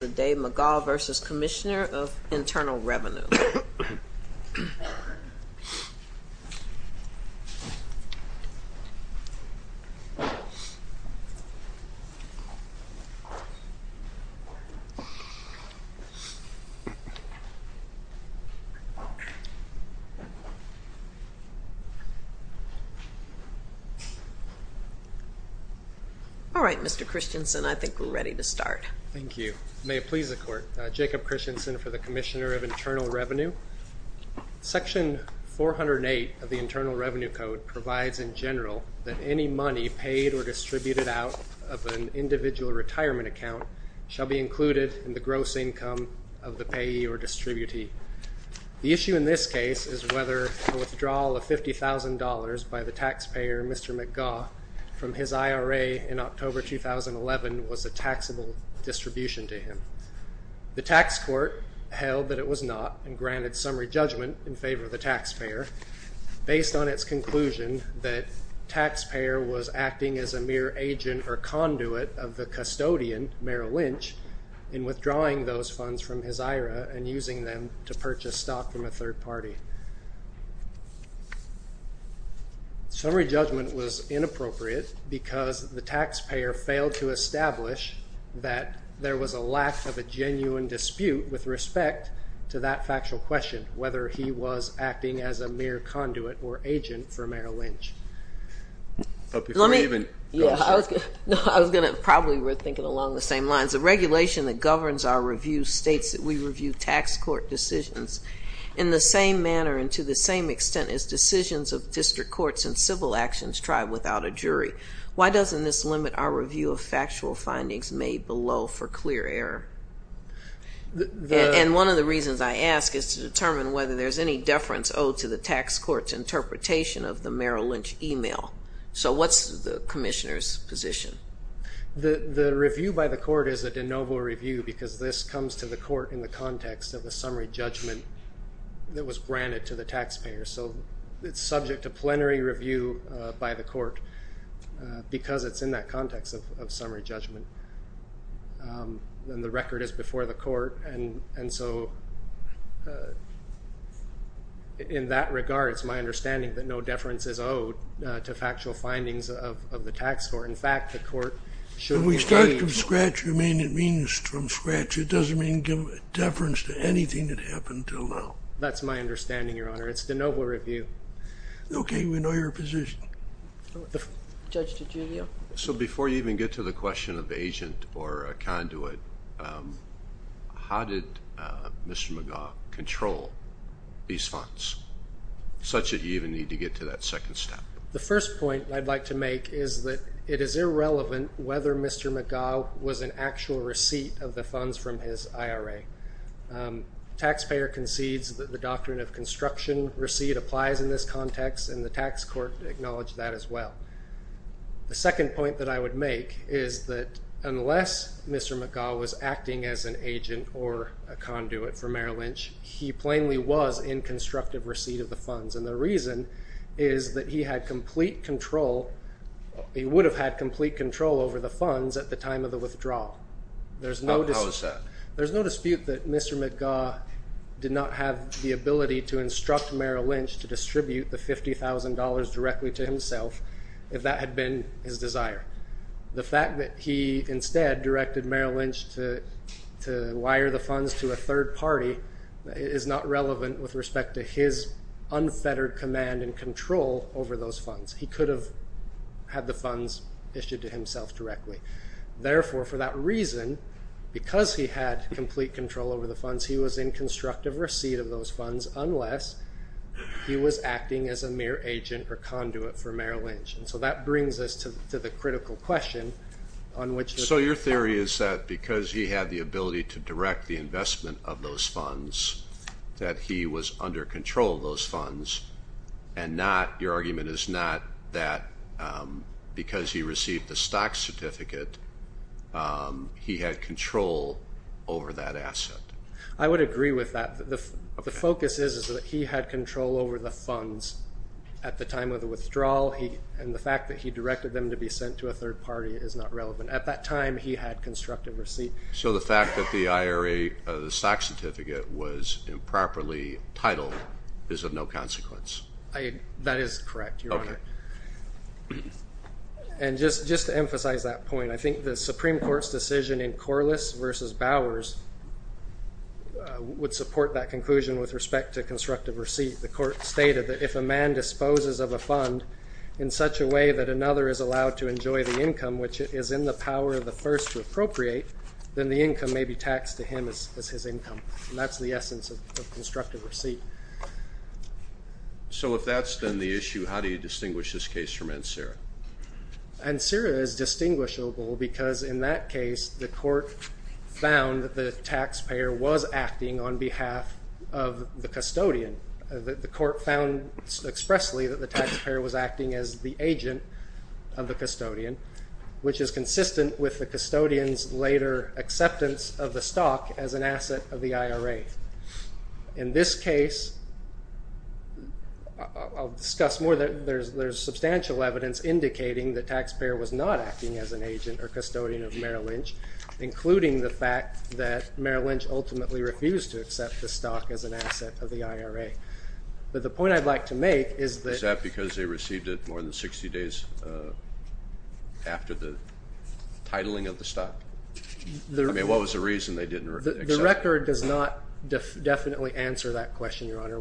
The Dave McGaugh v. Commissioner of Internal Revenue. All right, Mr. Christensen, I think we're ready to start. Thank you. May it please the Court. Jacob Christensen for the Commissioner of Internal Revenue. Section 408 of the Internal Revenue Code provides in general that any money paid or distributed out of an individual retirement account shall be included in the gross income of the payee or distributee. The issue in this case is whether a withdrawal of $50,000 by the taxpayer, Mr. McGaugh, from his IRA in October 2011 was a taxable distribution to him. The tax court held that it was not and granted summary judgment in favor of the taxpayer based on its conclusion that taxpayer was acting as a mere agent or conduit of the custodian, Merrill Lynch, in withdrawing those funds from his IRA and using them to purchase stock from a third party. Summary judgment was inappropriate because the taxpayer failed to establish that there was a lack of a genuine dispute with respect to that factual question, whether he was acting as a mere conduit or agent for Merrill Lynch. I was going to probably think along the same lines. The regulation that governs our review states that we review tax court decisions in the same manner and to the same extent as decisions of district courts and civil actions try without a jury. Why doesn't this limit our review of factual findings made below for clear error? And one of the reasons I ask is to determine whether there's any deference owed to the tax court's interpretation of the Merrill Lynch email. So what's the commissioner's position? The review by the court is a de novo review because this comes to the court in the context of the summary judgment that was granted to the taxpayer. So it's subject to plenary review by the court because it's in that context of summary judgment. And the record is before the court. And so in that regard, it's my understanding that no deference is owed to factual findings of the tax court. In fact, the court should be free. When we start from scratch, you mean it means from scratch. It doesn't mean deference to anything that happened until now. That's my understanding, Your Honor. It's de novo review. Okay. We know your position. Judge DiGiulio. So before you even get to the question of agent or a conduit, how did Mr. McGaugh control these funds such that you even need to get to that second step? The first point I'd like to make is that it is irrelevant whether Mr. McGaugh was an actual receipt of the funds from his IRA. Taxpayer concedes that the doctrine of construction receipt applies in this context, and the tax court acknowledged that as well. The second point that I would make is that unless Mr. McGaugh was acting as an agent or a conduit for Merrill Lynch, he plainly was in constructive receipt of the funds. And the reason is that he had complete control. He would have had complete control over the funds at the time of the withdrawal. How is that? There's no dispute that Mr. McGaugh did not have the ability to instruct Merrill Lynch to distribute the $50,000 directly to himself if that had been his desire. The fact that he instead directed Merrill Lynch to wire the funds to a third party is not relevant with respect to his unfettered command and control over those funds. He could have had the funds issued to himself directly. Therefore, for that reason, because he had complete control over the funds, he was in constructive receipt of those funds unless he was acting as a mere agent or conduit for Merrill Lynch. And so that brings us to the critical question on which the problem is. that he was under control of those funds. And your argument is not that because he received the stock certificate, he had control over that asset. I would agree with that. The focus is that he had control over the funds at the time of the withdrawal, and the fact that he directed them to be sent to a third party is not relevant. At that time, he had constructive receipt. So the fact that the stock certificate was improperly titled is of no consequence? That is correct, Your Honor. And just to emphasize that point, I think the Supreme Court's decision in Corliss v. Bowers would support that conclusion with respect to constructive receipt. The Court stated that if a man disposes of a fund in such a way that another is allowed to enjoy the income which is in the power of the first to appropriate, then the income may be taxed to him as his income. And that's the essence of constructive receipt. So if that's then the issue, how do you distinguish this case from Ansara? Ansara is distinguishable because in that case, the Court found that the taxpayer was acting on behalf of the custodian. The Court found expressly that the taxpayer was acting as the agent of the custodian, which is consistent with the custodian's later acceptance of the stock as an asset of the IRA. In this case, I'll discuss more. There's substantial evidence indicating the taxpayer was not acting as an agent or custodian of Merrill Lynch, including the fact that Merrill Lynch ultimately refused to accept the stock as an asset of the IRA. But the point I'd like to make is that- Is that because they received it more than 60 days after the titling of the stock? I mean, what was the reason they didn't accept it? The record does not definitely answer that question, Your Honor.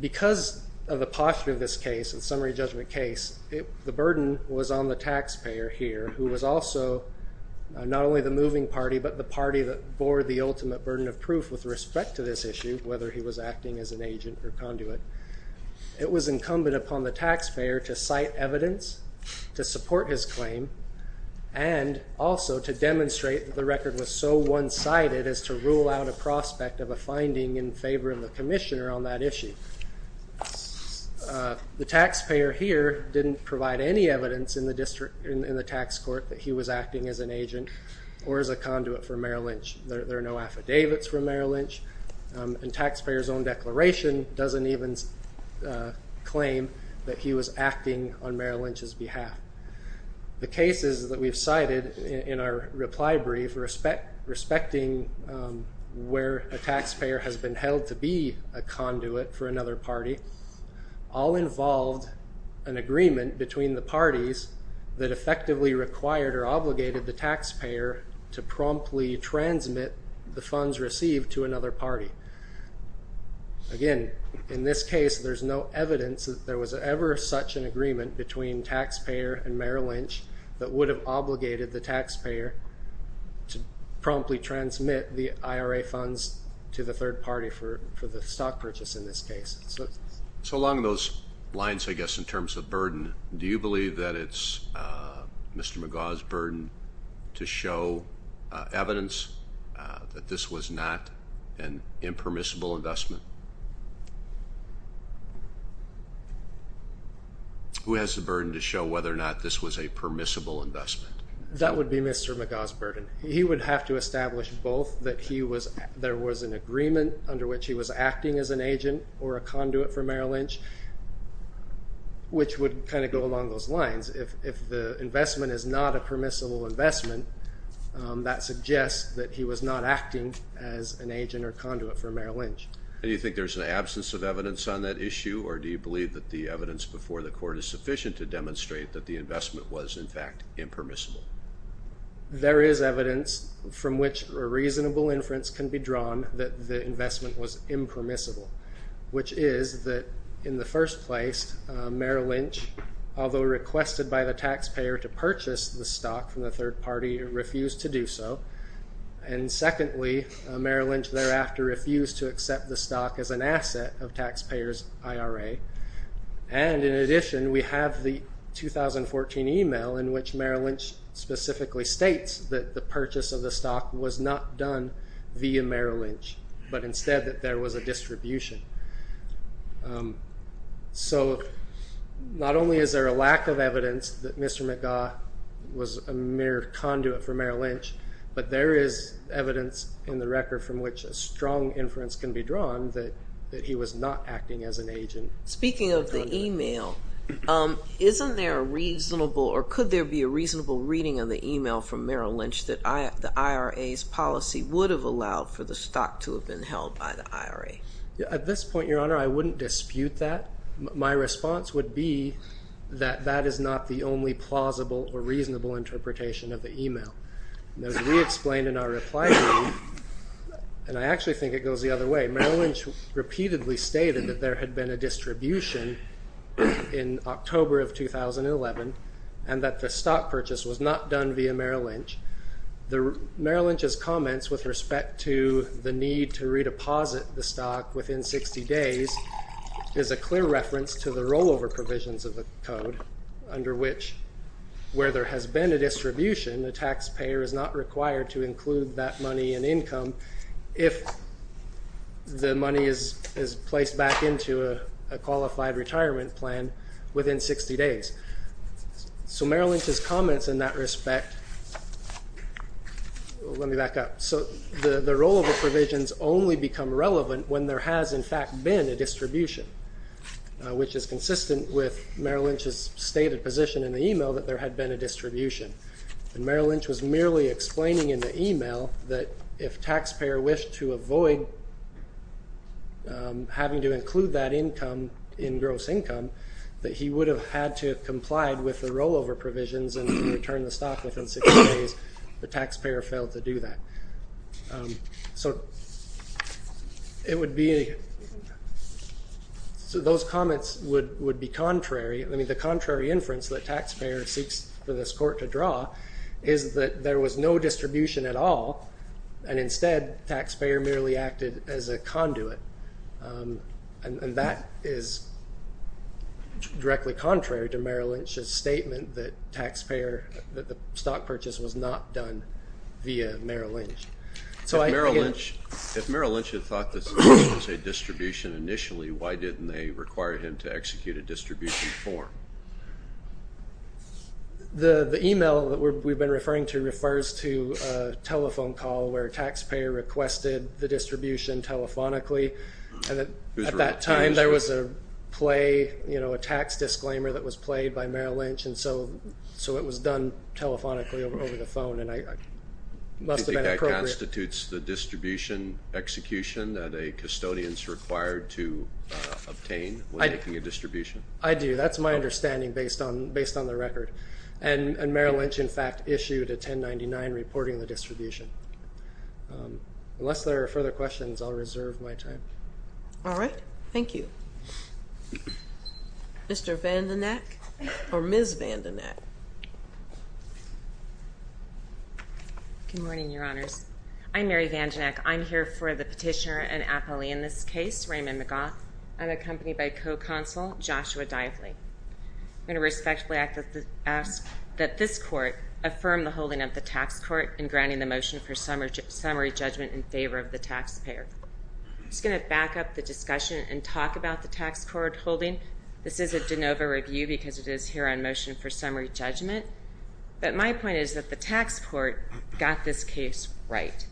Because of the posture of this case, the summary judgment case, the burden was on the taxpayer here, who was also not only the moving party, but the party that bore the ultimate burden of proof with respect to this issue, whether he was acting as an agent or conduit. It was incumbent upon the taxpayer to cite evidence to support his claim and also to demonstrate that the record was so one-sided as to rule out a prospect of a finding in favor of the commissioner on that issue. The taxpayer here didn't provide any evidence in the tax court that he was acting as an agent or as a conduit for Merrill Lynch. There are no affidavits from Merrill Lynch, and the taxpayer's own declaration doesn't even claim that he was acting on Merrill Lynch's behalf. The cases that we've cited in our reply brief, respecting where a taxpayer has been held to be a conduit for another party, all involved an agreement between the parties that effectively required or obligated the taxpayer to promptly transmit the funds received to another party. Again, in this case, there's no evidence that there was ever such an agreement between taxpayer and Merrill Lynch that would have obligated the taxpayer to promptly transmit the IRA funds to the third party for the stock purchase in this case. So along those lines, I guess, in terms of burden, do you believe that it's Mr. McGaugh's burden to show evidence that this was not an impermissible investment? Who has the burden to show whether or not this was a permissible investment? That would be Mr. McGaugh's burden. He would have to establish both that there was an agreement under which he was acting as an agent or a conduit for Merrill Lynch, which would kind of go along those lines. If the investment is not a permissible investment, that suggests that he was not acting as an agent or conduit for Merrill Lynch. Do you think there's an absence of evidence on that issue, or do you believe that the evidence before the court is sufficient to demonstrate that the investment was, in fact, impermissible? There is evidence from which a reasonable inference can be drawn that the investment was impermissible, which is that in the first place, Merrill Lynch, although requested by the taxpayer to purchase the stock from the third party, refused to do so. Secondly, Merrill Lynch thereafter refused to accept the stock as an asset of taxpayers IRA. In addition, we have the 2014 email in which Merrill Lynch specifically states that the purchase of the stock was not done via Merrill Lynch, but instead that there was a distribution. Not only is there a lack of evidence that Mr. McGaugh was a mere conduit for Merrill Lynch, but there is evidence in the record from which a strong inference can be drawn that he was not acting as an agent. Speaking of the email, isn't there a reasonable, or could there be a reasonable reading of the email from Merrill Lynch that the IRA's policy would have allowed for the stock to have been held by the IRA? At this point, Your Honor, I wouldn't dispute that. My response would be that that is not the only plausible or reasonable interpretation of the email. As we explained in our reply, and I actually think it goes the other way, Merrill Lynch repeatedly stated that there had been a distribution in October of 2011, and that the stock purchase was not done via Merrill Lynch. Merrill Lynch's comments with respect to the need to redeposit the stock within 60 days is a clear reference to the rollover provisions of the code, under which, where there has been a distribution, a taxpayer is not required to include that money in income if the money is placed back into a qualified retirement plan within 60 days. So Merrill Lynch's comments in that respect, let me back up. So the rollover provisions only become relevant when there has, in fact, been a distribution, which is consistent with Merrill Lynch's stated position in the email that there had been a distribution. Merrill Lynch was merely explaining in the email that if taxpayer wished to avoid having to include that income in gross income, that he would have had to have complied with the rollover provisions and return the stock within 60 days. The taxpayer failed to do that. So those comments would be contrary. I mean, the contrary inference that taxpayer seeks for this court to draw is that there was no distribution at all, and instead, taxpayer merely acted as a conduit. And that is directly contrary to Merrill Lynch's statement that taxpayer, that the stock purchase was not done via Merrill Lynch. If Merrill Lynch had thought this was a distribution initially, why didn't they require him to execute a distribution form? The email that we've been referring to refers to a telephone call where taxpayer requested the distribution telephonically. At that time, there was a play, you know, a tax disclaimer that was played by Merrill Lynch, and so it was done telephonically over the phone, and it must have been appropriate. Do you think that constitutes the distribution execution that a custodian is required to obtain when making a distribution? I do. That's my understanding based on the record. And Merrill Lynch, in fact, issued a 1099 reporting the distribution. Unless there are further questions, I'll reserve my time. All right. Thank you. Mr. Vandenheck or Ms. Vandenheck? Good morning, Your Honors. I'm Mary Vandenheck. I'm here for the petitioner and appellee in this case, Raymond McGaugh. I'm accompanied by co-counsel Joshua Dively. I'm going to respectfully ask that this court affirm the holding of the tax court in granting the motion for summary judgment in favor of the taxpayer. I'm just going to back up the discussion and talk about the tax court holding. This is a de novo review because it is here on motion for summary judgment. But my point is that the tax court got this case right.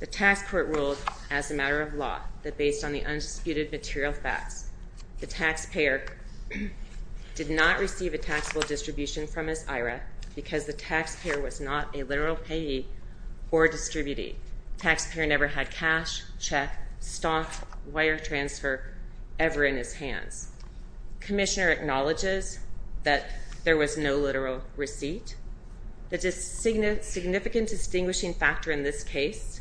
The tax court ruled, as a matter of law, that based on the undisputed material facts, the taxpayer did not receive a taxable distribution from his IRA because the taxpayer was not a literal payee or distributee. Taxpayer never had cash, check, stock, wire transfer ever in his hands. Commissioner acknowledges that there was no literal receipt. The significant distinguishing factor in this case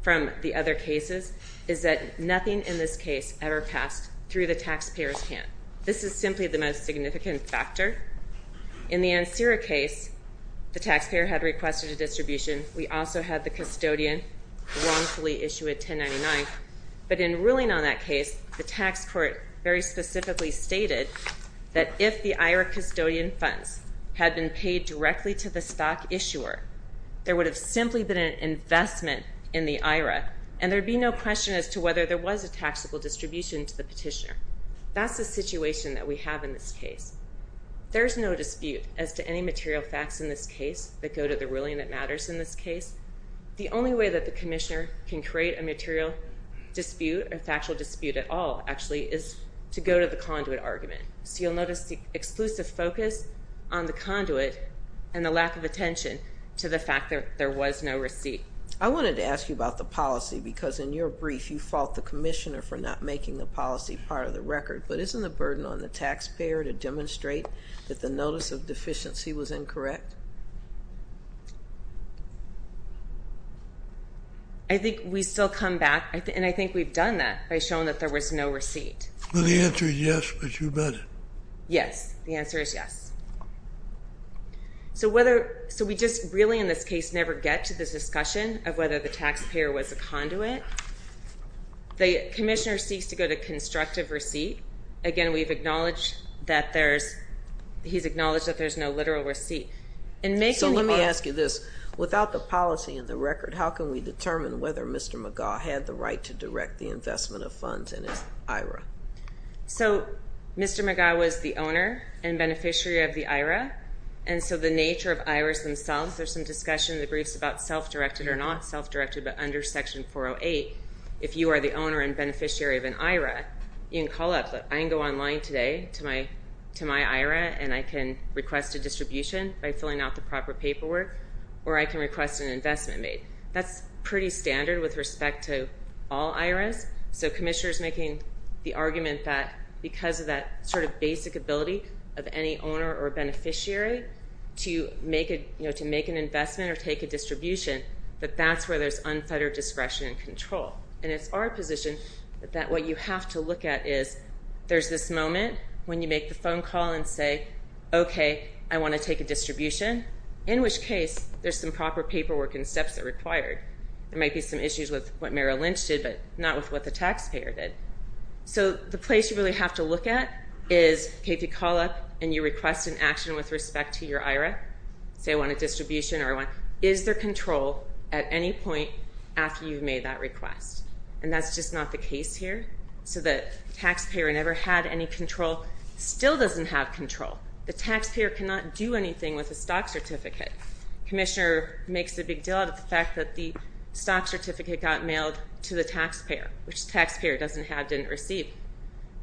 from the other cases is that nothing in this case ever passed through the taxpayer's hand. This is simply the most significant factor. In the Ansera case, the taxpayer had requested a distribution. We also had the custodian wrongfully issue a 1099. But in ruling on that case, the tax court very specifically stated that if the IRA custodian funds had been paid directly to the stock issuer, there would have simply been an investment in the IRA and there would be no question as to whether there was a taxable distribution to the petitioner. That's the situation that we have in this case. There is no dispute as to any material facts in this case that go to the ruling that matters in this case. The only way that the commissioner can create a material dispute or factual dispute at all, actually, is to go to the conduit argument. So you'll notice the exclusive focus on the conduit and the lack of attention to the fact that there was no receipt. I wanted to ask you about the policy because in your brief, you fault the commissioner for not making the policy part of the record. But isn't the burden on the taxpayer to demonstrate that the notice of deficiency was incorrect? I think we still come back, and I think we've done that, by showing that there was no receipt. Well, the answer is yes, but you bet it. Yes, the answer is yes. So we just really in this case never get to the discussion of whether the taxpayer was a conduit. The commissioner seeks to go to constructive receipt. Again, we've acknowledged that there's no literal receipt. So let me ask you this. Without the policy in the record, how can we determine whether Mr. McGaugh had the right to direct the investment of funds in his IRA? So Mr. McGaugh was the owner and beneficiary of the IRA, and so the nature of IRAs themselves, there's some discussion in the briefs about self-directed or not self-directed, but under Section 408, if you are the owner and beneficiary of an IRA, you can call up, look, I can go online today to my IRA, and I can request a distribution by filling out the proper paperwork, or I can request an investment made. That's pretty standard with respect to all IRAs. So the commissioner is making the argument that because of that sort of basic ability of any owner or beneficiary to make an investment or take a distribution, that that's where there's unfettered discretion and control. And it's our position that what you have to look at is there's this moment when you make the phone call and say, okay, I want to take a distribution, in which case there's some proper paperwork and steps that are required. There might be some issues with what Merrill Lynch did, but not with what the taxpayer did. So the place you really have to look at is, okay, if you call up and you request an action with respect to your IRA, say I want a distribution or I want... Is there control at any point after you've made that request? And that's just not the case here. So the taxpayer never had any control, still doesn't have control. The taxpayer cannot do anything with a stock certificate. Commissioner makes a big deal out of the fact that the stock certificate got mailed to the taxpayer, which the taxpayer doesn't have, didn't receive.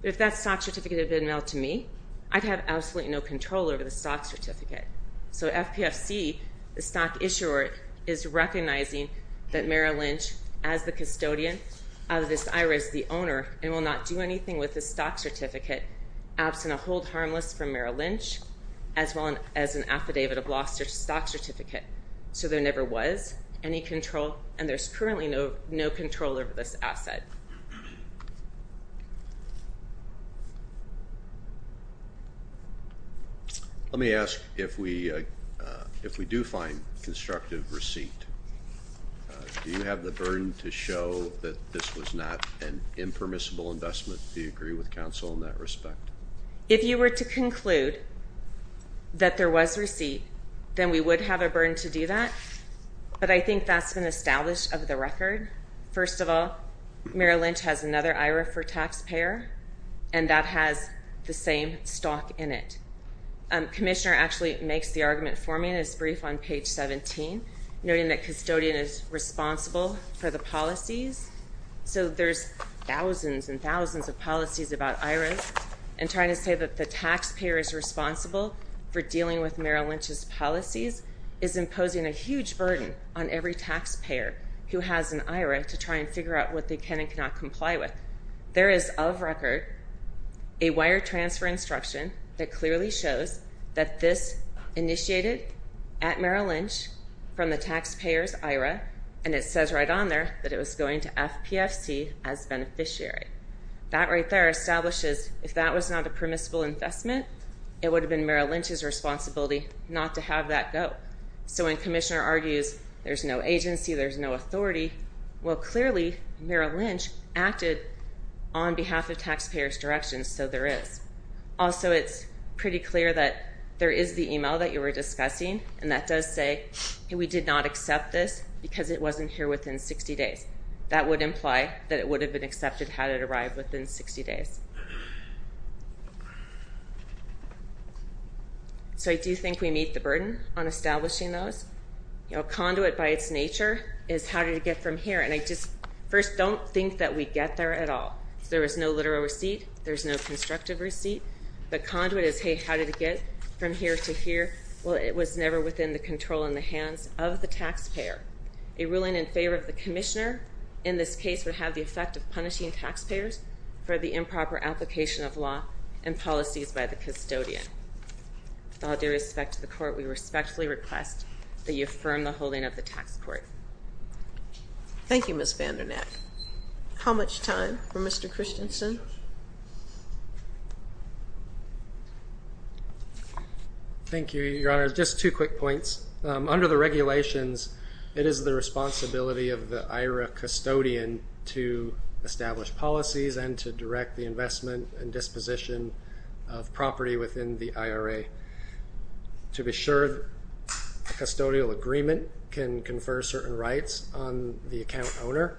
But if that stock certificate had been mailed to me, I'd have absolutely no control over the stock certificate. So FPFC, the stock issuer, is recognizing that Merrill Lynch, as the custodian of this IRA, is the owner, and will not do anything with the stock certificate absent a hold harmless from Merrill Lynch, as well as an affidavit of loss to the stock certificate. So there never was any control, and there's currently no control over this asset. Let me ask, if we do find constructive receipt, do you have the burden to show that this was not an impermissible investment? Do you agree with counsel in that respect? If you were to conclude that there was receipt, then we would have a burden to do that, but I think that's been established of the record. First of all, Merrill Lynch has another IRA for taxpayer, and that has the same stock in it. Commissioner actually makes the argument for me in his brief on page 17, noting that custodian is responsible for the policies. So there's thousands and thousands of policies about IRAs, and trying to say that the taxpayer is responsible for dealing with Merrill Lynch's policies is imposing a huge burden on every taxpayer who has an IRA to try and figure out what they can and cannot comply with. There is, of record, a wire transfer instruction that clearly shows that this initiated at Merrill Lynch from the taxpayer's IRA, and it says right on there that it was going to FPFC as beneficiary. That right there establishes if that was not a permissible investment, it would have been Merrill Lynch's responsibility not to have that go. So when Commissioner argues there's no agency, there's no authority, well, clearly Merrill Lynch acted on behalf of taxpayer's direction, so there is. Also, it's pretty clear that there is the email that you were discussing, and that does say we did not accept this because it wasn't here within 60 days. That would imply that it would have been accepted had it arrived within 60 days. So I do think we meet the burden on establishing those. Conduit by its nature is how did it get from here, and I just first don't think that we get there at all. There was no literal receipt. There's no constructive receipt. The conduit is, hey, how did it get from here to here? Well, it was never within the control in the hands of the taxpayer. A ruling in favor of the Commissioner in this case would have the effect of punishing taxpayers for the improper application of law and policies by the custodian. With all due respect to the Court, we respectfully request that you affirm the holding of the tax court. Thank you, Ms. Vandernack. How much time for Mr. Christensen? Thank you, Your Honor. Just two quick points. Under the regulations, it is the responsibility of the IRA custodian to establish policies and to direct the investment and disposition of property within the IRA. To be sure, a custodial agreement can confer certain rights on the account owner,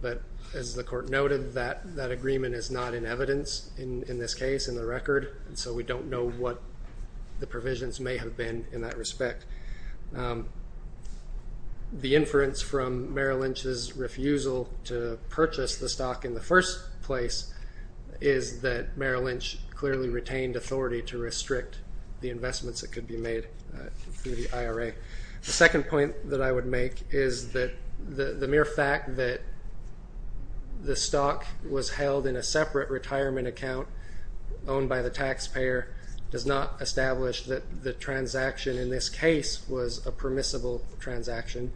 but as the Court noted, that agreement is not in evidence in this case, in the record, and so we don't know what the provisions may have been in that respect. The inference from Merrill Lynch's refusal to purchase the stock in the first place is that Merrill Lynch clearly retained authority to restrict the investments that could be made through the IRA. The second point that I would make is that the mere fact that the stock was held in a separate retirement account owned by the taxpayer does not establish that the transaction in this case was a permissible transaction.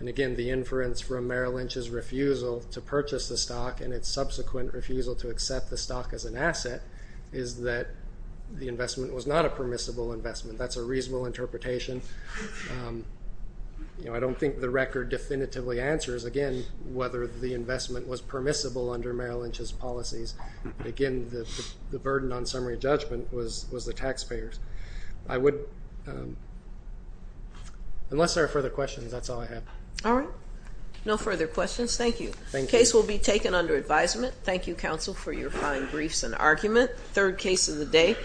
Again, the inference from Merrill Lynch's refusal to purchase the stock and its subsequent refusal to accept the stock as an asset is that the investment was not a permissible investment. That's a reasonable interpretation. I don't think the record definitively answers, again, whether the investment was permissible under Merrill Lynch's policies. Again, the burden on summary judgment was the taxpayers. Unless there are further questions, that's all I have. All right. No further questions. Thank you. The case will be taken under advisement. Thank you, Counsel, for your fine briefs and argument. Third case of the day.